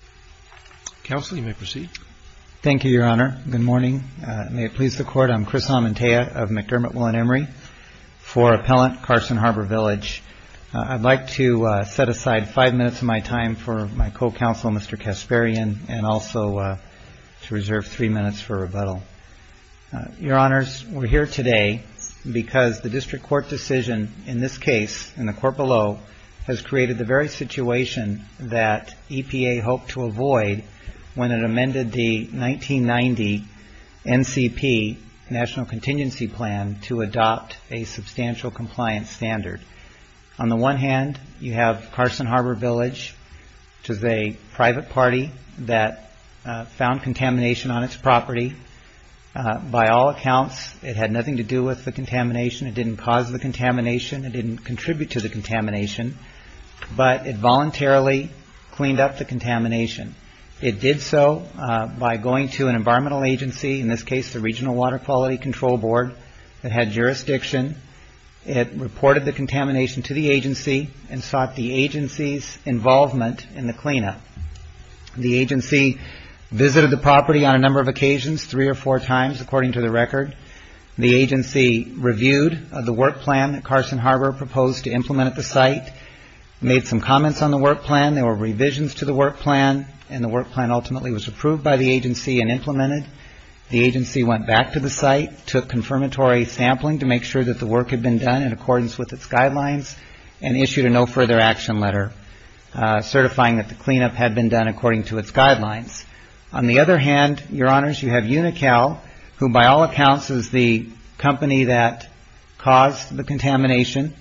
I would like to set aside five minutes of my time for my co-counsel, Mr. Kasparian, and also to reserve three minutes for rebuttal. Your Honors, we're here today because the district court decision in this case, in the court below, has created the very situation that EPA hoped to avoid when it amended the 1990 NCP, National Contingency Plan, to adopt a substantial compliance standard. On the one hand, you have Carson Harbor Village, which is a private party that found contamination on its property. By all accounts, it had nothing to do with the contamination. It didn't cause the contamination. It didn't contribute to the contamination. But it voluntarily cleaned up the contamination. It did so by going to an environmental agency, in this case the Regional Water Quality Control Board, that had jurisdiction. It reported the contamination to the agency and sought the agency's involvement in the cleanup. The agency visited the property on a number of occasions, three or four times, according to the record. The agency reviewed the work plan that Carson Harbor proposed to implement at the site, made some comments on the work plan. There were revisions to the work plan, and the work plan ultimately was approved by the agency and implemented. The agency went back to the site, took confirmatory sampling to make sure that the work had been done in accordance with its guidelines, and issued a no further action letter, certifying that the cleanup had been done according to its guidelines. On the other hand, your honors, you have UNICAL, who by all accounts is the company that caused the contamination.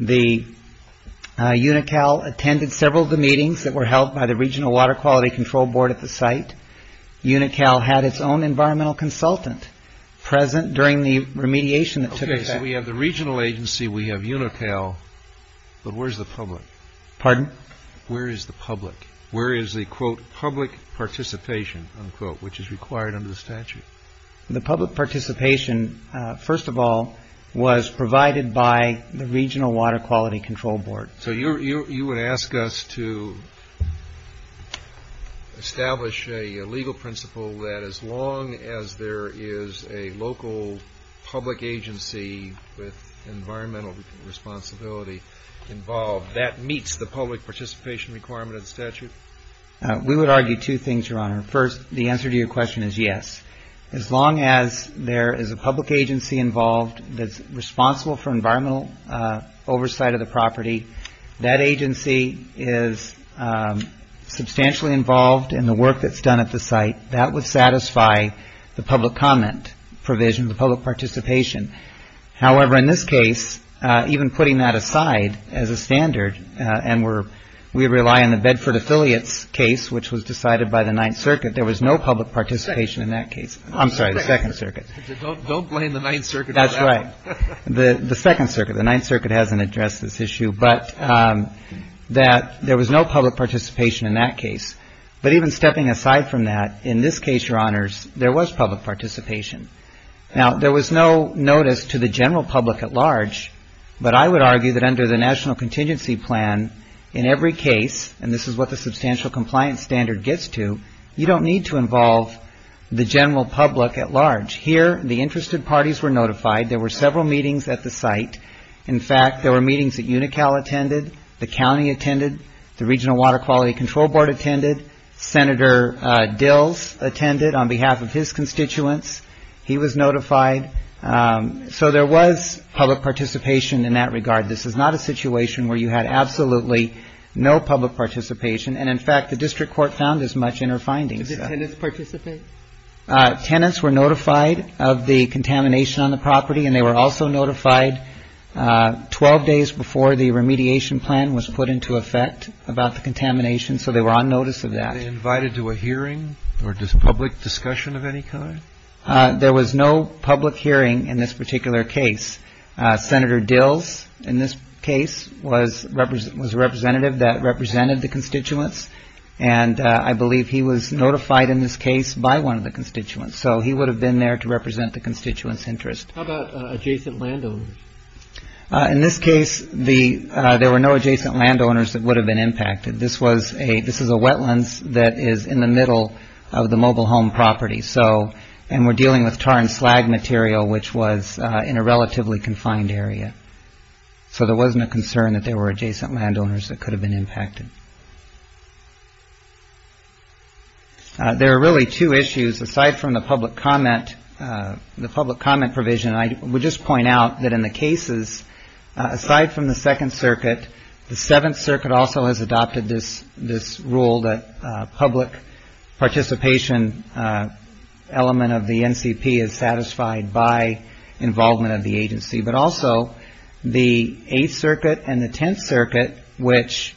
UNICAL attended several of the meetings that were held by the Regional Water Quality Control Board at the site. UNICAL had its own environmental consultant present during the remediation that took place. We have the regional agency, we have UNICAL, but where's the public? Pardon? Where is the public? Where is the, quote, public participation, unquote, which is required under the statute? The public participation, first of all, was provided by the Regional Water Quality Control Board. So you would ask us to establish a legal principle that as long as there is a local public agency with environmental responsibility involved, that meets the public participation requirement of the statute? We would argue two things, your honor. First, the answer to your question is yes. As long as there is a public agency involved that's responsible for environmental oversight of the property, that agency is substantially involved in the work that's done at the site. That would satisfy the public comment provision, the public participation. However, in this case, even putting that aside as a standard, and we rely on the Bedford Affiliates case, which was decided by the Ninth Circuit, there was no public participation in that case. I'm sorry, the Second Circuit. Don't blame the Ninth Circuit. That's right. The Second Circuit, the Ninth Circuit hasn't addressed this issue, but that there was no public participation in that case. But even stepping aside from that, in this case, your honors, there was public participation. Now, there was no notice to the general public at large, but I would argue that under the National Contingency Plan, in every case, and this is what the substantial compliance standard gets to, you don't need to involve the general public at large. Here, the interested parties were notified. There were several meetings at the site. In fact, there were meetings that UNICAL attended, the county attended, the Regional Water Quality Control Board attended, Senator Dills attended on behalf of his constituents. He was notified. So there was public participation in that regard. This is not a situation where you had absolutely no public participation. And, in fact, the district court found as much in her findings. Did the tenants participate? Tenants were notified of the contamination on the property, and they were also notified 12 days before the remediation plan was put into effect about the contamination, so they were on notice of that. Were they invited to a hearing or public discussion of any kind? There was no public hearing in this particular case. Senator Dills, in this case, was a representative that represented the constituents, and I believe he was notified in this case by one of the constituents, so he would have been there to represent the constituents' interest. How about adjacent landowners? In this case, there were no adjacent landowners that would have been impacted. This is a wetlands that is in the middle of the mobile home property, and we're dealing with tar and slag material, which was in a relatively confined area. So there wasn't a concern that there were adjacent landowners that could have been impacted. There are really two issues. Aside from the public comment provision, I would just point out that in the cases, aside from the Second Circuit, the Seventh Circuit also has adopted this rule that public participation element of the NCP is satisfied by involvement of the agency, but also the Eighth Circuit and the Tenth Circuit, which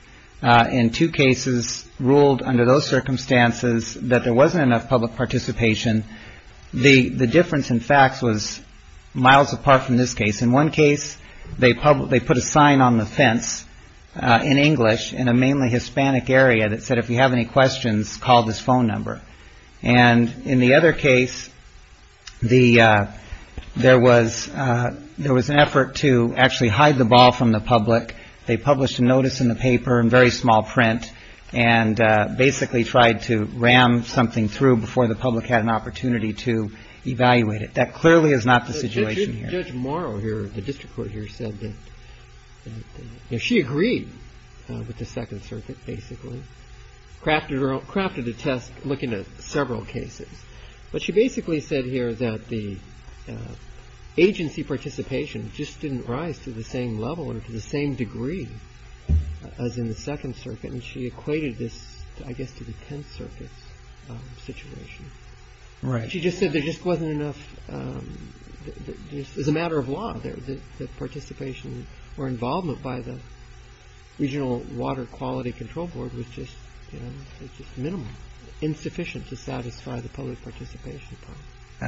in two cases ruled under those circumstances that there wasn't enough public participation, the difference in facts was miles apart from this case. In one case, they put a sign on the fence in English in a mainly Hispanic area that said, if you have any questions, call this phone number. And in the other case, there was an effort to actually hide the ball from the public. They published a notice in the paper in very small print and basically tried to ram something through before the public had an opportunity to evaluate it. That clearly is not the situation here. Judge Morrow here, the district court here, said that she agreed with the Second Circuit basically, crafted a test looking at several cases. But she basically said here that the agency participation just didn't rise to the same level or to the same degree as in the Second Circuit. And she equated this, I guess, to the Tenth Circuit's situation. She just said there just wasn't enough, as a matter of law, that participation or involvement by the Regional Water Quality Control Board was just minimal, insufficient to satisfy the public participation.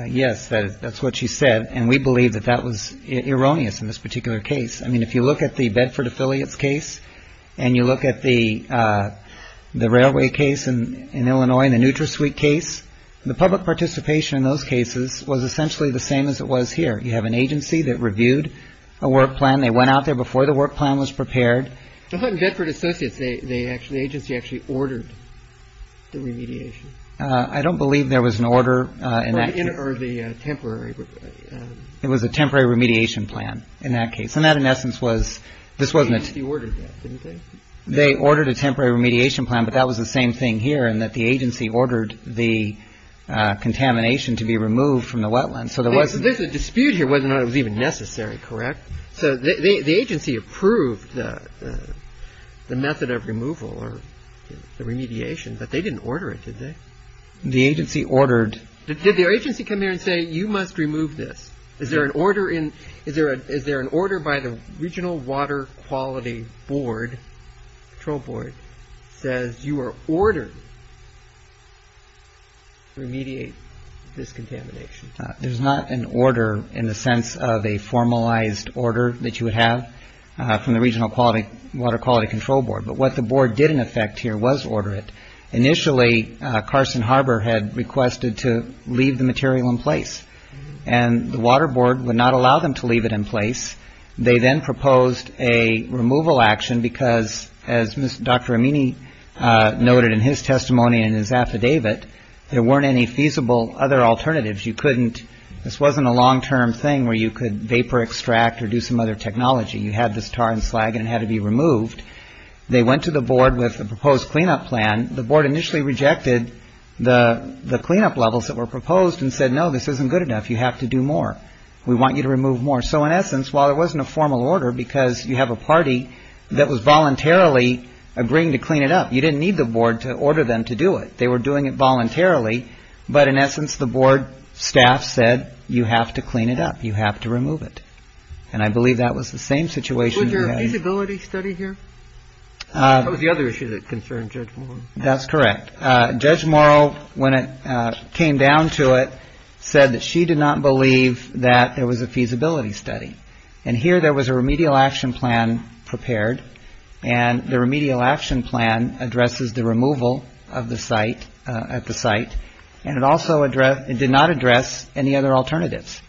Yes, that's what she said. And we believe that that was erroneous in this particular case. I mean, if you look at the Bedford affiliates case and you look at the railway case in Illinois, the NutraSuite case, the public participation in those cases was essentially the same as it was here. You have an agency that reviewed a work plan. They went out there before the work plan was prepared. But in Bedford Associates, the agency actually ordered the remediation. I don't believe there was an order in that case. Or the temporary. It was a temporary remediation plan in that case. And that, in essence, was – this wasn't a – The agency ordered that, didn't they? They ordered a temporary remediation plan, but that was the same thing here in that the agency ordered the contamination to be removed from the wetlands. So there was – There's a dispute here whether or not it was even necessary, correct? So the agency approved the method of removal or the remediation, but they didn't order it, did they? The agency ordered – Did the agency come here and say, you must remove this? Is there an order in – is there an order by the Regional Water Quality Board, control board, says you are ordered to remediate this contamination? There's not an order in the sense of a formalized order that you would have from the Regional Water Quality Control Board. But what the board did in effect here was order it. Initially, Carson Harbor had requested to leave the material in place. And the water board would not allow them to leave it in place. They then proposed a removal action because, as Dr. Amini noted in his testimony in his affidavit, there weren't any feasible other alternatives. You couldn't – this wasn't a long-term thing where you could vapor extract or do some other technology. You had this tar and slag and it had to be removed. They went to the board with a proposed cleanup plan. And the board initially rejected the cleanup levels that were proposed and said, no, this isn't good enough. You have to do more. We want you to remove more. So in essence, while it wasn't a formal order because you have a party that was voluntarily agreeing to clean it up, you didn't need the board to order them to do it. They were doing it voluntarily. But in essence, the board staff said, you have to clean it up. You have to remove it. And I believe that was the same situation. Was there a feasibility study here? That was the other issue that concerned Judge Morrow. That's correct. Judge Morrow, when it came down to it, said that she did not believe that there was a feasibility study. And here there was a remedial action plan prepared. And the remedial action plan addresses the removal of the site – at the site. And it also addressed – it did not address any other alternatives.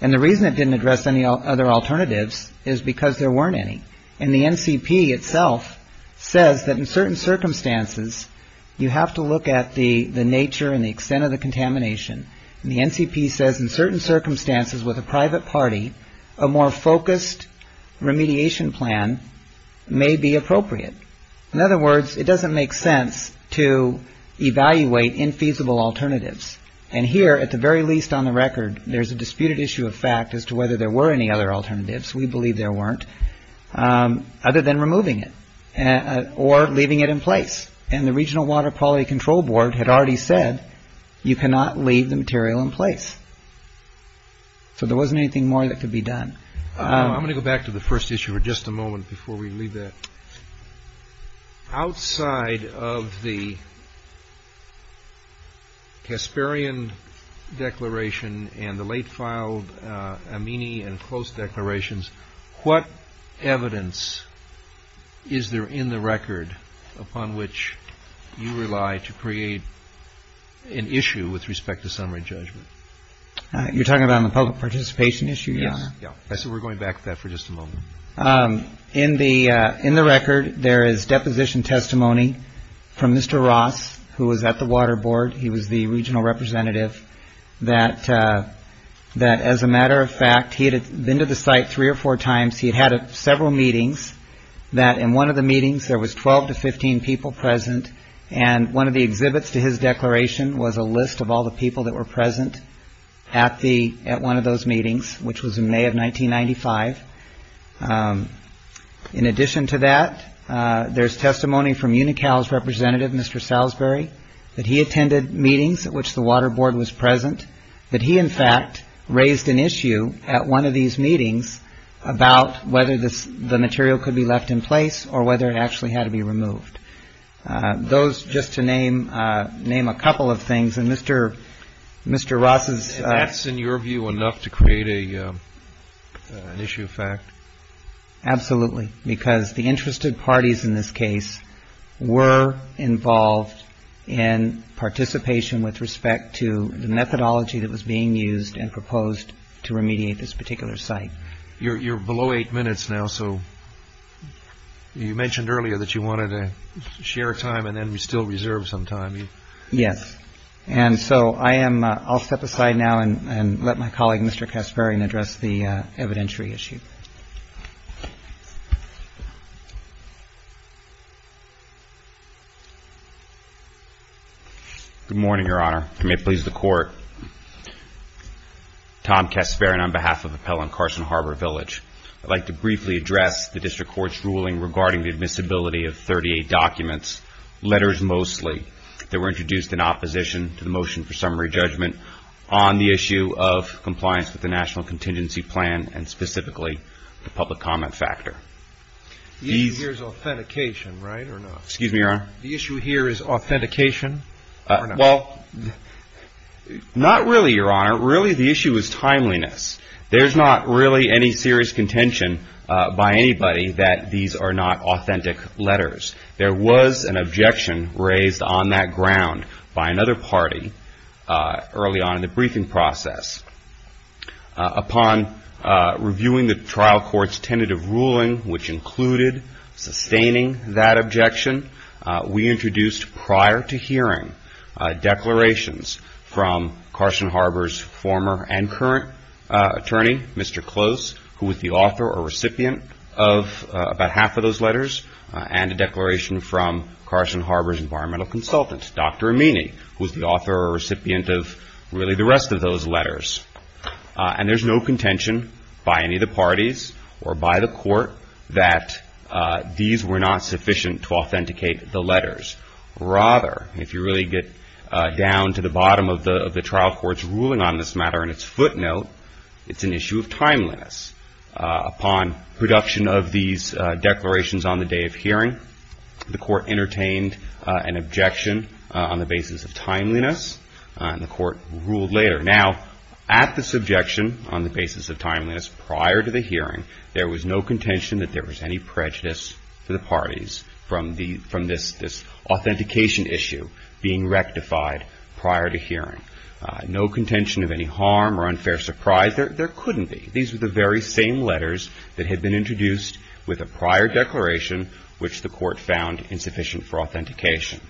And the reason it didn't address any other alternatives is because there weren't any. And the NCP itself says that in certain circumstances, you have to look at the nature and the extent of the contamination. And the NCP says in certain circumstances with a private party, a more focused remediation plan may be appropriate. In other words, it doesn't make sense to evaluate infeasible alternatives. And here, at the very least on the record, there's a disputed issue of fact as to whether there were any other alternatives. We believe there weren't. Other than removing it or leaving it in place. And the Regional Water Quality Control Board had already said you cannot leave the material in place. So there wasn't anything more that could be done. I'm going to go back to the first issue for just a moment before we leave that. Outside of the Casparian Declaration and the late-filed Amini and Close Declarations, what evidence is there in the record upon which you rely to create an issue with respect to summary judgment? You're talking about the public participation issue? Yes. So we're going back to that for just a moment. In the record, there is deposition testimony from Mr. Ross, who was at the Water Board. He was the regional representative. That as a matter of fact, he had been to the site three or four times. He had had several meetings. That in one of the meetings, there was 12 to 15 people present. And one of the exhibits to his declaration was a list of all the people that were present at one of those meetings, which was in May of 1995. In addition to that, there's testimony from UNICAL's representative, Mr. Salisbury, that he attended meetings at which the Water Board was present, that he in fact raised an issue at one of these meetings about whether the material could be left in place or whether it actually had to be removed. Those, just to name a couple of things, and Mr. Ross's- Absolutely. Because the interested parties in this case were involved in participation with respect to the methodology that was being used and proposed to remediate this particular site. You're below eight minutes now. So you mentioned earlier that you wanted to share time and then still reserve some time. Yes. And so I'll step aside now and let my colleague, Mr. Kasparian, address the evidentiary issue. Good morning, Your Honor. I may please the Court. Tom Kasparian on behalf of Appellant Carson Harbor Village. I'd like to briefly address the District Court's ruling regarding the admissibility of 38 documents, letters mostly, that were introduced in opposition to the motion for summary judgment on the issue of compliance with the National Contingency Plan and specifically the public comment factor. The issue here is authentication, right, or not? Excuse me, Your Honor? The issue here is authentication or not? Well, not really, Your Honor. Really, the issue is timeliness. There's not really any serious contention by anybody that these are not authentic letters. There was an objection raised on that ground by another party early on in the briefing process. Upon reviewing the trial court's tentative ruling, which included sustaining that objection, we introduced prior to hearing declarations from Carson Harbor's former and current attorney, Mr. Close, who was the author or recipient of about half of those letters, and a declaration from Carson Harbor's environmental consultant, Dr. Amini, who was the author or recipient of really the rest of those letters. And there's no contention by any of the parties or by the court that these were not sufficient to authenticate the letters. Rather, if you really get down to the bottom of the trial court's ruling on this matter and its footnote, it's an issue of timeliness. Upon production of these declarations on the day of hearing, the court entertained an objection on the basis of timeliness, and the court ruled later. Now, at this objection on the basis of timeliness prior to the hearing, there was no contention that there was any prejudice to the parties from this authentication issue being rectified prior to hearing. No contention of any harm or unfair surprise. There couldn't be. These were the very same letters that had been introduced with a prior declaration, which the court found insufficient for authentication.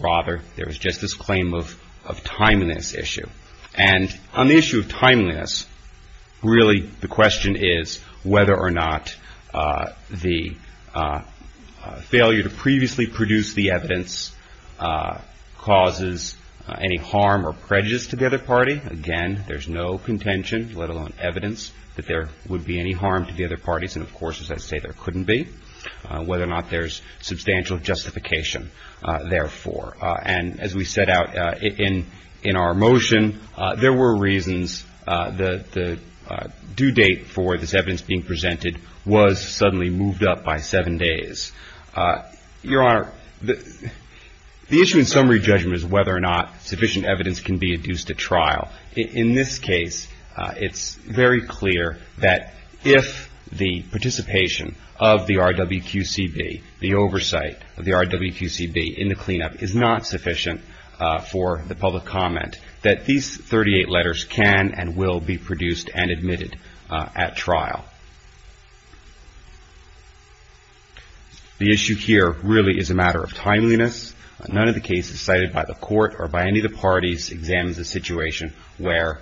Rather, there was just this claim of timeliness issue. And on the issue of timeliness, really the question is whether or not the failure to previously produce the evidence causes any harm or prejudice to the other party. Again, there's no contention, let alone evidence, that there would be any harm to the other parties. And, of course, as I say, there couldn't be. Whether or not there's substantial justification, therefore. And as we set out in our motion, there were reasons the due date for this evidence being presented was suddenly moved up by seven days. Your Honor, the issue in summary judgment is whether or not sufficient evidence can be adduced at trial. In this case, it's very clear that if the participation of the RWQCB, the oversight of the RWQCB in the cleanup is not sufficient for the public comment, that these 38 letters can and will be produced and admitted at trial. The issue here really is a matter of timeliness. None of the cases cited by the Court or by any of the parties examines a situation where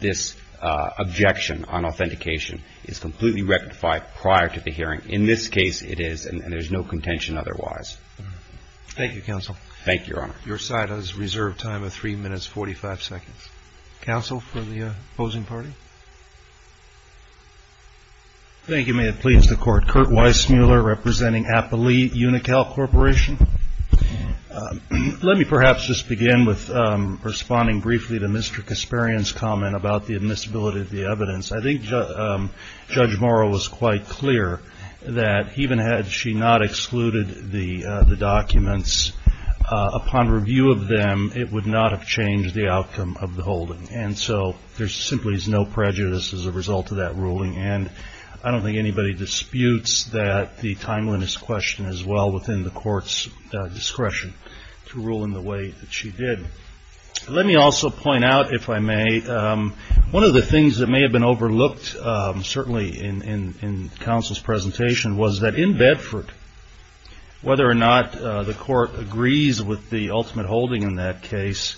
this objection on authentication is completely rectified prior to the hearing. In this case, it is, and there's no contention otherwise. Thank you, Counsel. Thank you, Your Honor. Your side has reserved time of 3 minutes, 45 seconds. Counsel for the opposing party? Thank you. May it please the Court. Kurt Weissmuller representing Appali Unical Corporation. Let me perhaps just begin with responding briefly to Mr. Kasparian's comment about the admissibility of the evidence. I think Judge Morrow was quite clear that even had she not excluded the documents, upon review of them, it would not have changed the outcome of the holding. And so there simply is no prejudice as a result of that ruling. And I don't think anybody disputes that the timeliness question is well within the Court's discretion to rule in the way that she did. Let me also point out, if I may, one of the things that may have been overlooked, certainly in Counsel's presentation, was that in Bedford, whether or not the Court agrees with the ultimate holding in that case,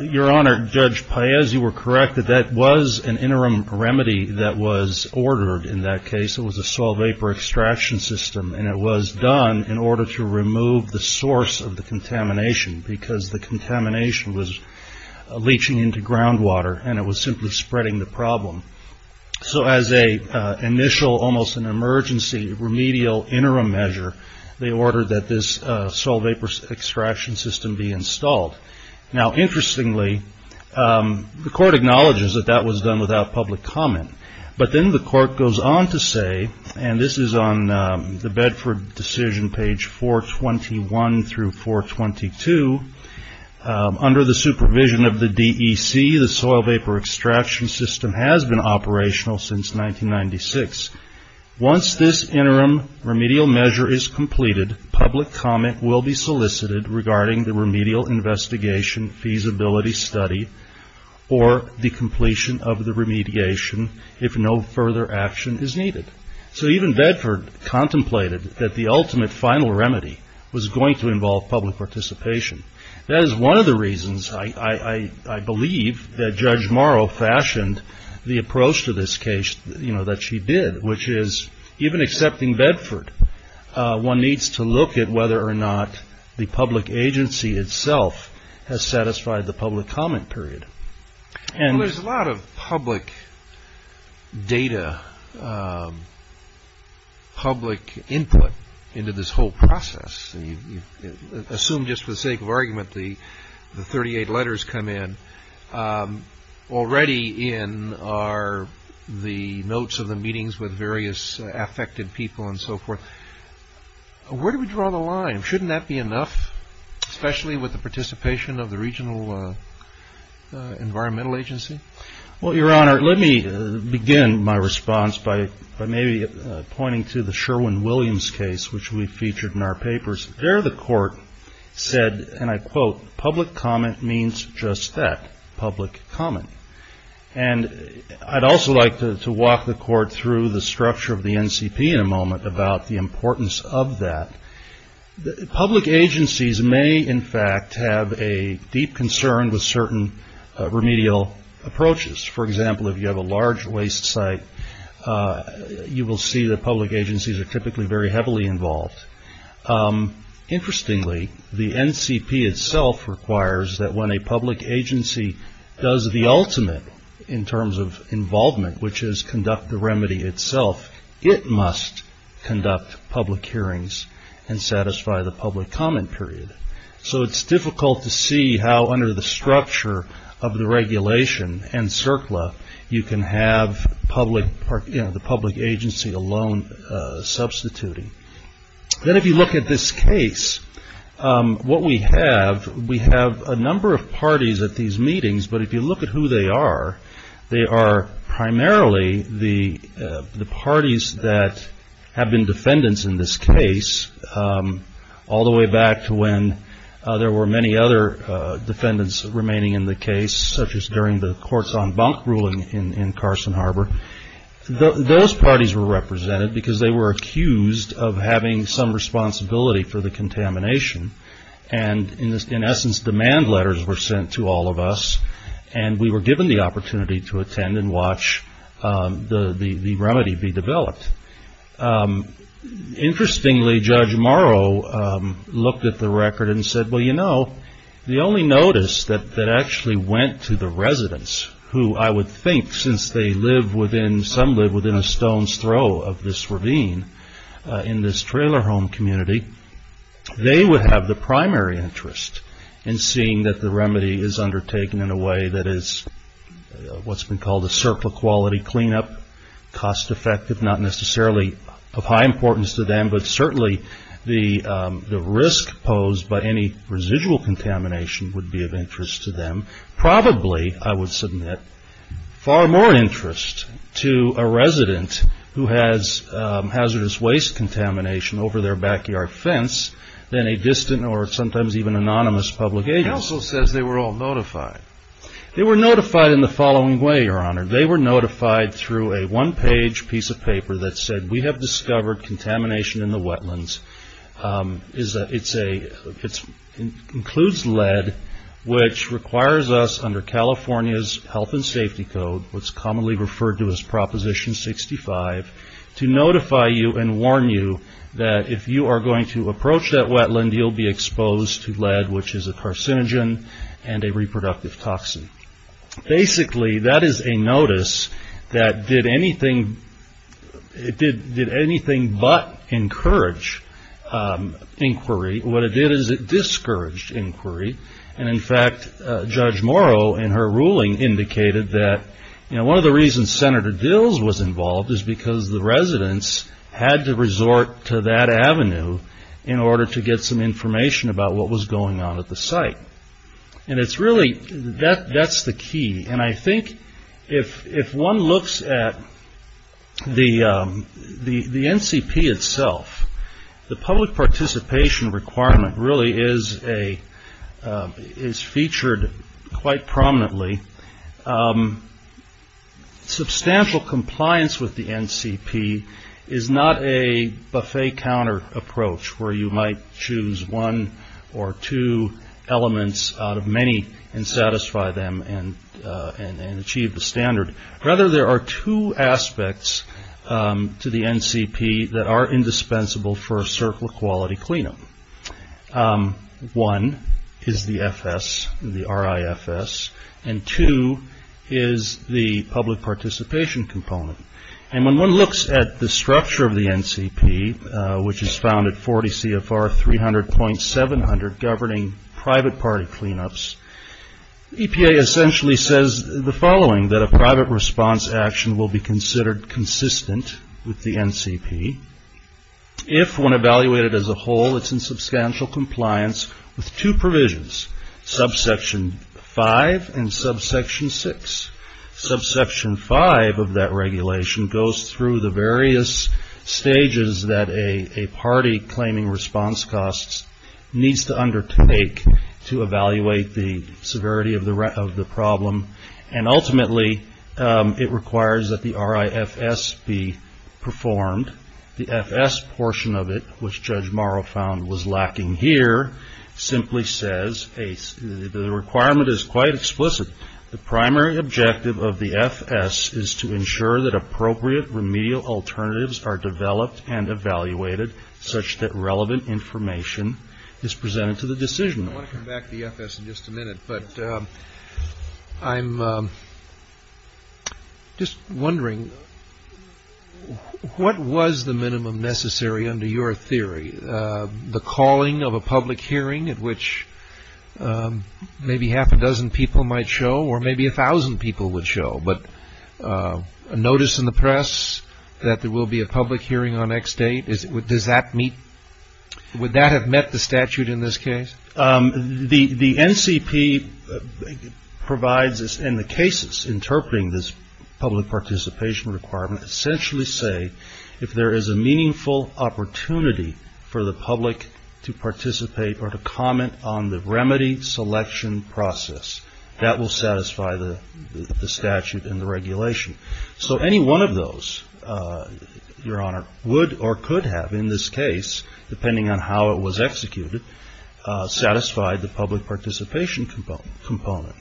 Your Honor, Judge Paez, you were correct that that was an interim remedy that was ordered in that case. It was a soil vapor extraction system and it was done in order to remove the source of the contamination because the contamination was leaching into groundwater and it was simply spreading the problem. So as an initial, almost an emergency, remedial interim measure, they ordered that this soil vapor extraction system be installed. Now, interestingly, the Court acknowledges that that was done without public comment, but then the Court goes on to say, and this is on the Bedford decision page 421 through 422, under the supervision of the DEC, the soil vapor extraction system has been operational since 1996. Once this interim remedial measure is completed, public comment will be solicited regarding the remedial investigation feasibility study or the completion of the remediation if no further action is needed. So even Bedford contemplated that the ultimate final remedy was going to involve public participation. That is one of the reasons I believe that Judge Morrow fashioned the approach to this case that she did, which is even accepting Bedford, one needs to look at whether or not the public agency itself has satisfied the public comment period. There's a lot of public data, public input into this whole process. Assume just for the sake of argument, the 38 letters come in. Already in are the notes of the meetings with various affected people and so forth. Where do we draw the line? Shouldn't that be enough, especially with the participation of the regional environmental agency? Well, Your Honor, let me begin my response by maybe pointing to the Sherwin-Williams case, which we featured in our papers. There the Court said, and I quote, public comment means just that, public comment. And I'd also like to walk the Court through the structure of the NCP in a moment about the importance of that. Public agencies may, in fact, have a deep concern with certain remedial approaches. For example, if you have a large waste site, you will see that public agencies are typically very heavily involved. Interestingly, the NCP itself requires that when a public agency does the ultimate in terms of involvement, which is conduct the remedy itself, it must conduct public hearings and satisfy the public comment period. So it's difficult to see how under the structure of the regulation and CERCLA, you can have the public agency alone substituting. Then if you look at this case, what we have, we have a number of parties at these meetings, but if you look at who they are, they are primarily the parties that have been defendants in this case, all the way back to when there were many other defendants remaining in the case, such as during the Courts on Bunk ruling in Carson Harbor. Those parties were represented because they were accused of having some responsibility for the contamination. And in essence, demand letters were sent to all of us, and we were given the opportunity to attend and watch the remedy be developed. Interestingly, Judge Morrow looked at the record and said, well, you know, the only notice that actually went to the residents, who I would think since they live within, some live within a stone's throw of this ravine, in this trailer home community, they would have the primary interest in seeing that the remedy is undertaken in a way that is what's been called a CERCLA quality cleanup, cost effective, not necessarily of high importance to them, but certainly the risk posed by any residual contamination would be of interest to them. Probably, I would submit, far more interest to a resident who has hazardous waste contamination over their backyard fence than a distant or sometimes even anonymous public agent. He also says they were all notified. They were notified in the following way, Your Honor. They were notified through a one-page piece of paper that said, we have discovered contamination in the wetlands. It includes lead, which requires us under California's health and safety code, what's commonly referred to as Proposition 65, to notify you and warn you that if you are going to approach that wetland, you'll be exposed to lead, which is a carcinogen and a reproductive toxin. Basically, that is a notice that did anything but encourage inquiry. What it did is it discouraged inquiry. In fact, Judge Morrow in her ruling indicated that one of the reasons Senator Dills was involved is because the residents had to resort to that avenue in order to get some information about what was going on at the site. Really, that's the key. I think if one looks at the NCP itself, the public participation requirement really is featured quite prominently. Substantial compliance with the NCP is not a buffet counter approach where you might choose one or two elements out of many and satisfy them and achieve the standard. Rather, there are two aspects to the NCP that are indispensable for a circle of quality cleanup. One is the FS, the RIFS, and two is the public participation component. When one looks at the structure of the NCP, which is found at 40 CFR 300.700 governing private party cleanups, EPA essentially says the following, that a private response action will be considered consistent with the NCP if when evaluated as a whole it's in substantial compliance with two provisions, subsection 5 and subsection 6. Subsection 5 of that regulation goes through the various stages that a party claiming response costs needs to undertake to evaluate the severity of the problem. Ultimately, it requires that the RIFS be performed. The FS portion of it, which Judge Morrow found was lacking here, simply says the requirement is quite explicit. The primary objective of the FS is to ensure that appropriate remedial alternatives are developed and evaluated such that relevant information is presented to the decision. I want to come back to the FS in just a minute, but I'm just wondering what was the minimum necessary under your theory? The calling of a public hearing at which maybe half a dozen people might show or maybe a thousand people would show, but a notice in the press that there will be a public hearing on X date, does that meet, would that have met the statute in this case? The NCP provides us in the cases interpreting this public participation requirement essentially say if there is a meaningful opportunity for the public to participate or to comment on the remedy selection process, that will satisfy the statute and the regulation. So any one of those, Your Honor, would or could have in this case, depending on how it was executed, satisfied the public participation component.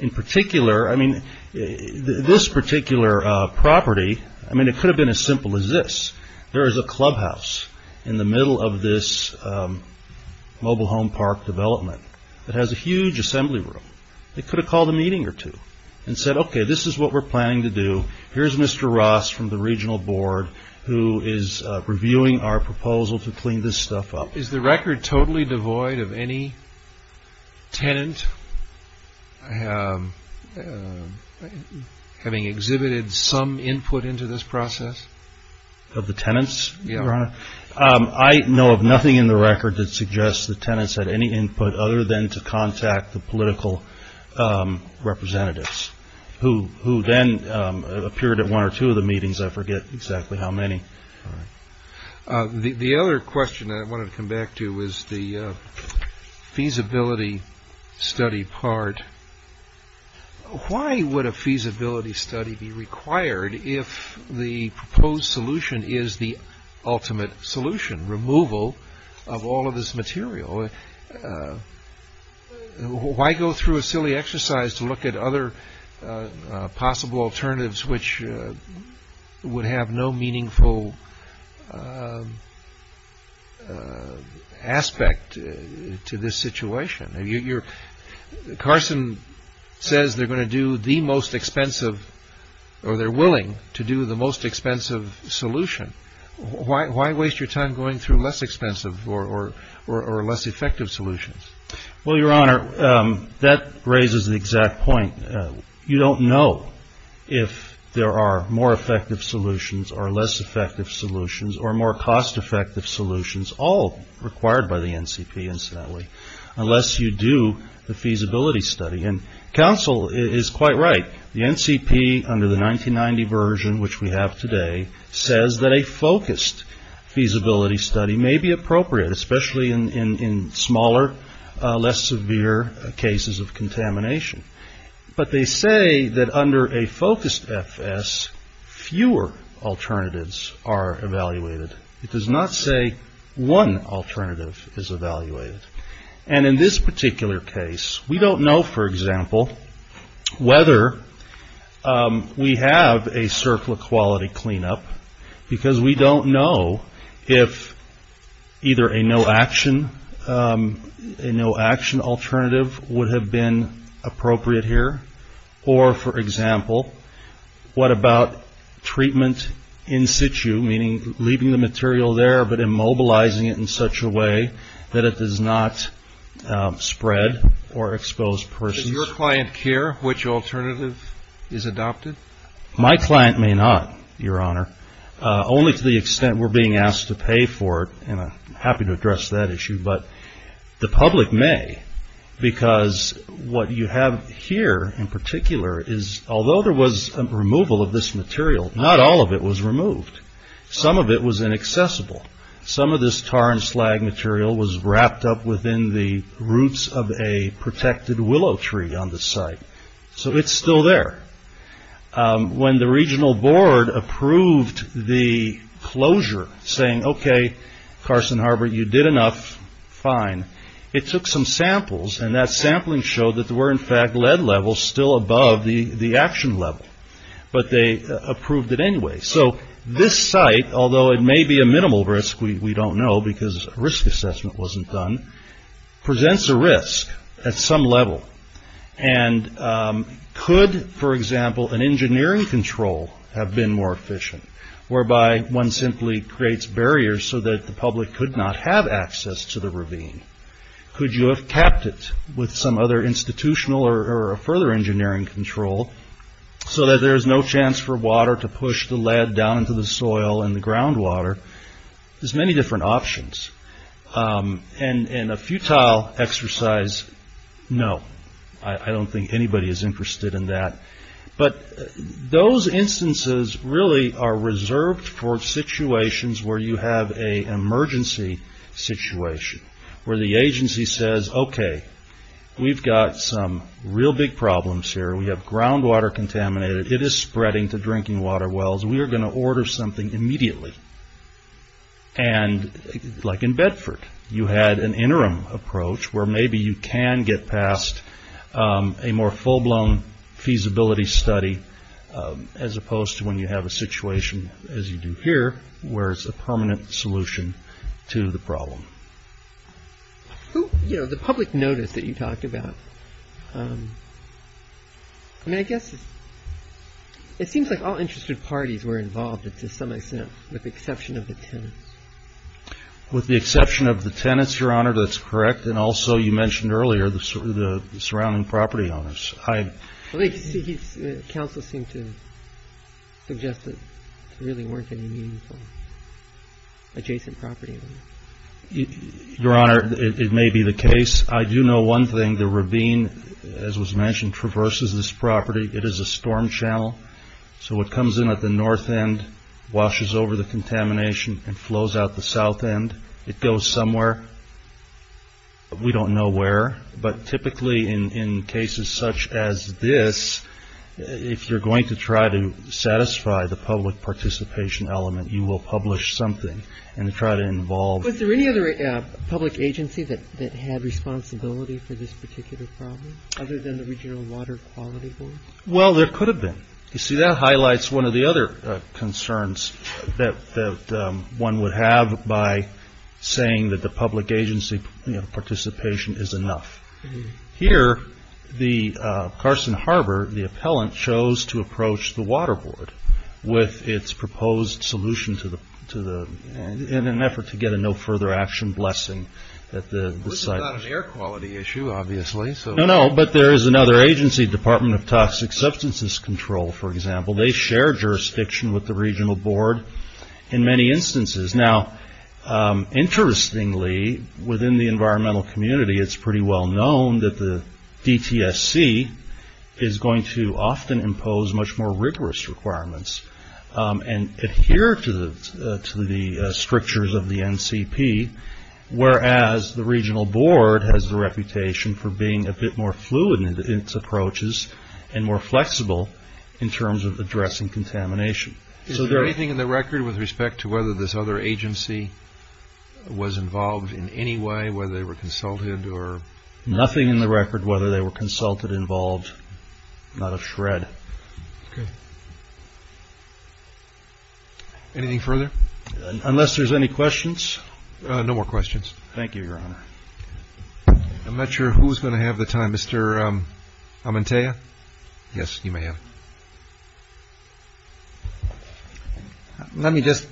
In particular, I mean, this particular property, I mean, it could have been as simple as this. There is a clubhouse in the middle of this mobile home park development that has a huge assembly room. They could have called a meeting or two and said, okay, this is what we're planning to do. Here's Mr. Ross from the regional board who is reviewing our proposal to clean this stuff up. Is the record totally devoid of any tenant having exhibited some input into this process? Of the tenants? I know of nothing in the record that suggests the tenants had any input other than to contact the political representatives who then appeared at one or two of the meetings. I forget exactly how many. The other question I want to come back to is the feasibility study part. Why would a feasibility study be required if the proposed solution is the ultimate solution, removal of all of this material? Why go through a silly exercise to look at other possible alternatives which would have no meaningful aspect to this situation? Carson says they're going to do the most expensive or they're willing to do the most expensive solution. Why waste your time going through less expensive or less effective solutions? Well, Your Honor, that raises the exact point. You don't know if there are more effective solutions or less effective solutions or more cost effective solutions, all required by the NCP incidentally, unless you do the feasibility study. And counsel is quite right. The NCP under the 1990 version, which we have today, says that a focused feasibility study may be appropriate, especially in smaller, less severe cases of contamination. But they say that under a focused FS, fewer alternatives are evaluated. It does not say one alternative is evaluated. And in this particular case, we don't know, for example, whether we have a circle of quality cleanup because we don't know if either a no action alternative would have been appropriate here or, for example, what about treatment in situ, meaning leaving the material there but immobilizing it in such a way that it does not spread or expose persons. Does your client care which alternative is adopted? My client may not, Your Honor, only to the extent we're being asked to pay for it. And I'm happy to address that issue. But the public may because what you have here in particular is, although there was removal of this material, not all of it was removed. Some of it was inaccessible. Some of this tar and slag material was wrapped up within the roots of a protected willow tree on the site. So it's still there. When the regional board approved the closure saying, okay, Carson Harbor, you did enough, fine, it took some samples and that sampling showed that there were in fact lead levels still above the action level. But they approved it anyway. So this site, although it may be a minimal risk, we don't know because risk assessment wasn't done, presents a risk at some level. And could, for example, an engineering control have been more efficient, whereby one simply creates barriers so that the public could not have access to the ravine? Could you have kept it with some other institutional or further engineering control so that there's no chance for water to push the lead down into the soil and the groundwater? There's many different options. And a futile exercise, no. I don't think anybody is interested in that. But those instances really are reserved for situations where you have an emergency situation, where the agency says, okay, we've got some real big problems here. We have groundwater contaminated. It is spreading to drinking water wells. We are going to order something immediately. And like in Bedford, you had an interim approach where maybe you can get past a more full-blown feasibility study, as opposed to when you have a situation as you do here, where it's a permanent solution to the problem. You know, the public notice that you talked about, I mean, I guess it seems like all interested parties were involved, to some extent, with the exception of the tenants. With the exception of the tenants, Your Honor, that's correct. And also, you mentioned earlier, the surrounding property owners. Counsel seemed to suggest that there really weren't any meaningful adjacent property owners. Your Honor, it may be the case. I do know one thing. The ravine, as was mentioned, traverses this property. It is a storm channel. So it comes in at the north end, washes over the contamination, and flows out the south end. It goes somewhere. We don't know where. But typically, in cases such as this, if you're going to try to satisfy the public participation element, you will publish something and try to involve. Was there any other public agency that had responsibility for this particular problem, other than the Regional Water Quality Board? Well, there could have been. You see, that highlights one of the other concerns that one would have by saying that the public agency participation is enough. Here, Carson Harbor, the appellant, chose to approach the Water Board with its proposed solution in an effort to get a no further action blessing. This is not an air quality issue, obviously. No, no. But there is another agency, Department of Toxic Substances Control, for example. They share jurisdiction with the Regional Board in many instances. Now, interestingly, within the environmental community, it's pretty well known that the DTSC is going to often impose much more rigorous requirements and adhere to the strictures of the NCP, whereas the Regional Board has the reputation for being a bit more fluid in its approaches and more flexible in terms of addressing contamination. Is there anything in the record with respect to whether this other agency was involved in any way, whether they were consulted or? Nothing in the record whether they were consulted, involved. Not a shred. Okay. Anything further? Unless there's any questions. No more questions. Thank you, Your Honor. I'm not sure who's going to have the time. Mr. Amantea? Yes, you may have. Let me just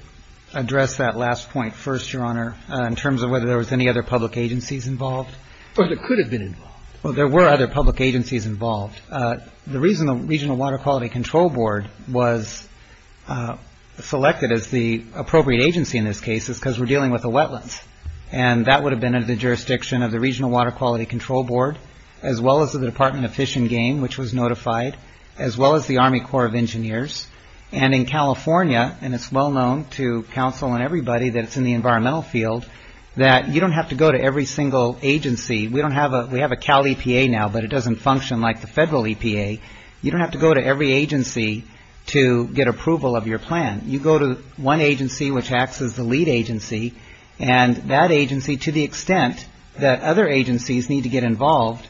address that last point first, Your Honor, in terms of whether there was any other public agencies involved. Well, there could have been involved. Well, there were other public agencies involved. The reason the Regional Water Quality Control Board was selected as the appropriate agency in this case is because we're dealing with the wetlands, and that would have been under the jurisdiction of the Regional Water Quality Control Board, as well as the Department of Fish and Game, which was notified, as well as the Army Corps of Engineers. And in California, and it's well known to counsel and everybody that it's in the environmental field, that you don't have to go to every single agency. We have a Cal EPA now, but it doesn't function like the federal EPA. You don't have to go to every agency to get approval of your plan. You go to one agency, which acts as the lead agency, and that agency, to the extent that other agencies need to get involved,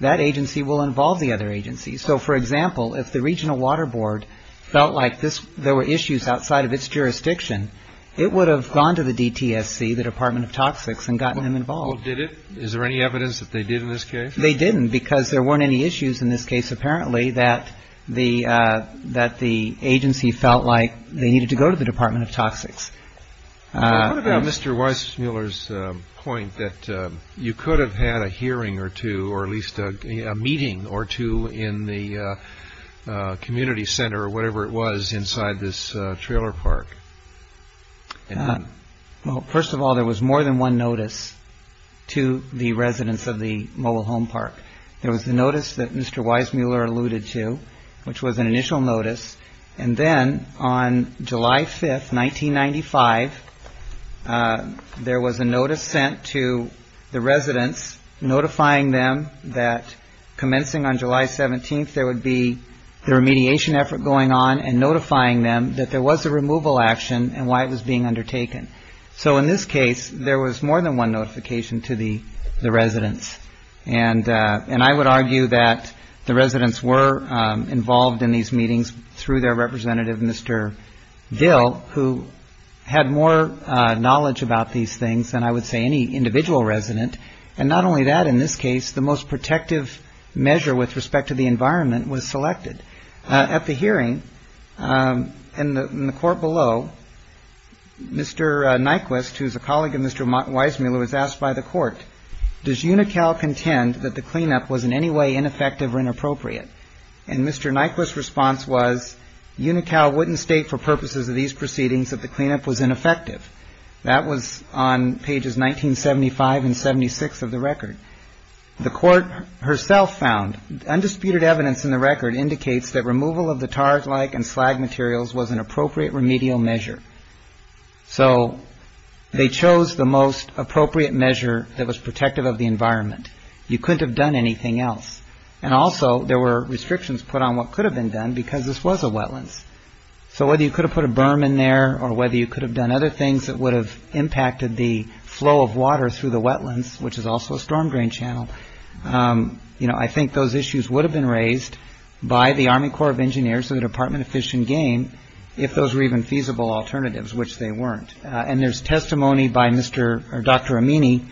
that agency will involve the other agencies. So, for example, if the Regional Water Board felt like there were issues outside of its jurisdiction, it would have gone to the DTSC, the Department of Toxics, and gotten them involved. Well, did it? Is there any evidence that they did in this case? They didn't, because there weren't any issues in this case, apparently, that the agency felt like they needed to go to the Department of Toxics. What about Mr. Weissmuller's point that you could have had a hearing or two, or at least a meeting or two in the community center, or whatever it was inside this trailer park? Well, first of all, there was more than one notice to the residents of the Mobile Home Park. There was the notice that Mr. Weissmuller alluded to, which was an initial notice, and then on July 5th, 1995, there was a notice sent to the residents notifying them that commencing on July 17th, there would be the remediation effort going on and notifying them that there was a removal action and why it was being undertaken. So, in this case, there was more than one notification to the residents, and I would argue that the residents were involved in these meetings through their representative, Mr. Dill, who had more knowledge about these things than I would say any individual resident, and not only that, in this case, the most protective measure with respect to the environment was selected. At the hearing, in the court below, Mr. Nyquist, who is a colleague of Mr. Weissmuller, was asked by the court, does UNICAL contend that the cleanup was in any way ineffective or inappropriate? And Mr. Nyquist's response was, UNICAL wouldn't state for purposes of these proceedings that the cleanup was ineffective. That was on pages 1975 and 76 of the record. The court herself found, undisputed evidence in the record indicates that removal of the tarred-like and slag materials was an appropriate remedial measure. So, they chose the most appropriate measure that was protective of the environment. You couldn't have done anything else. And also, there were restrictions put on what could have been done because this was a wetlands. So, whether you could have put a berm in there or whether you could have done other things that would have impacted the flow of water through the wetlands, which is also a storm drain channel, I think those issues would have been raised by the Army Corps of Engineers and the Department of Fish and Game if those were even feasible alternatives, which they weren't. And there's testimony by Dr. Amini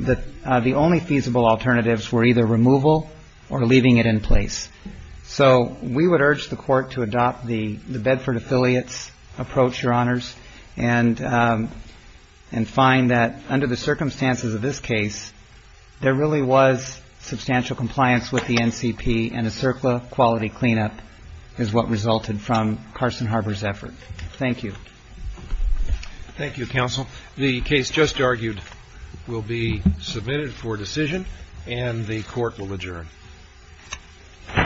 that the only feasible alternatives were either removal or leaving it in place. So, we would urge the court to adopt the Bedford affiliates approach, Your Honors, and find that under the circumstances of this case, there really was substantial compliance with the NCP and a CERCLA quality cleanup is what resulted from Carson Harbor's effort. Thank you. Thank you, Counsel. The case just argued will be submitted for decision and the court will adjourn.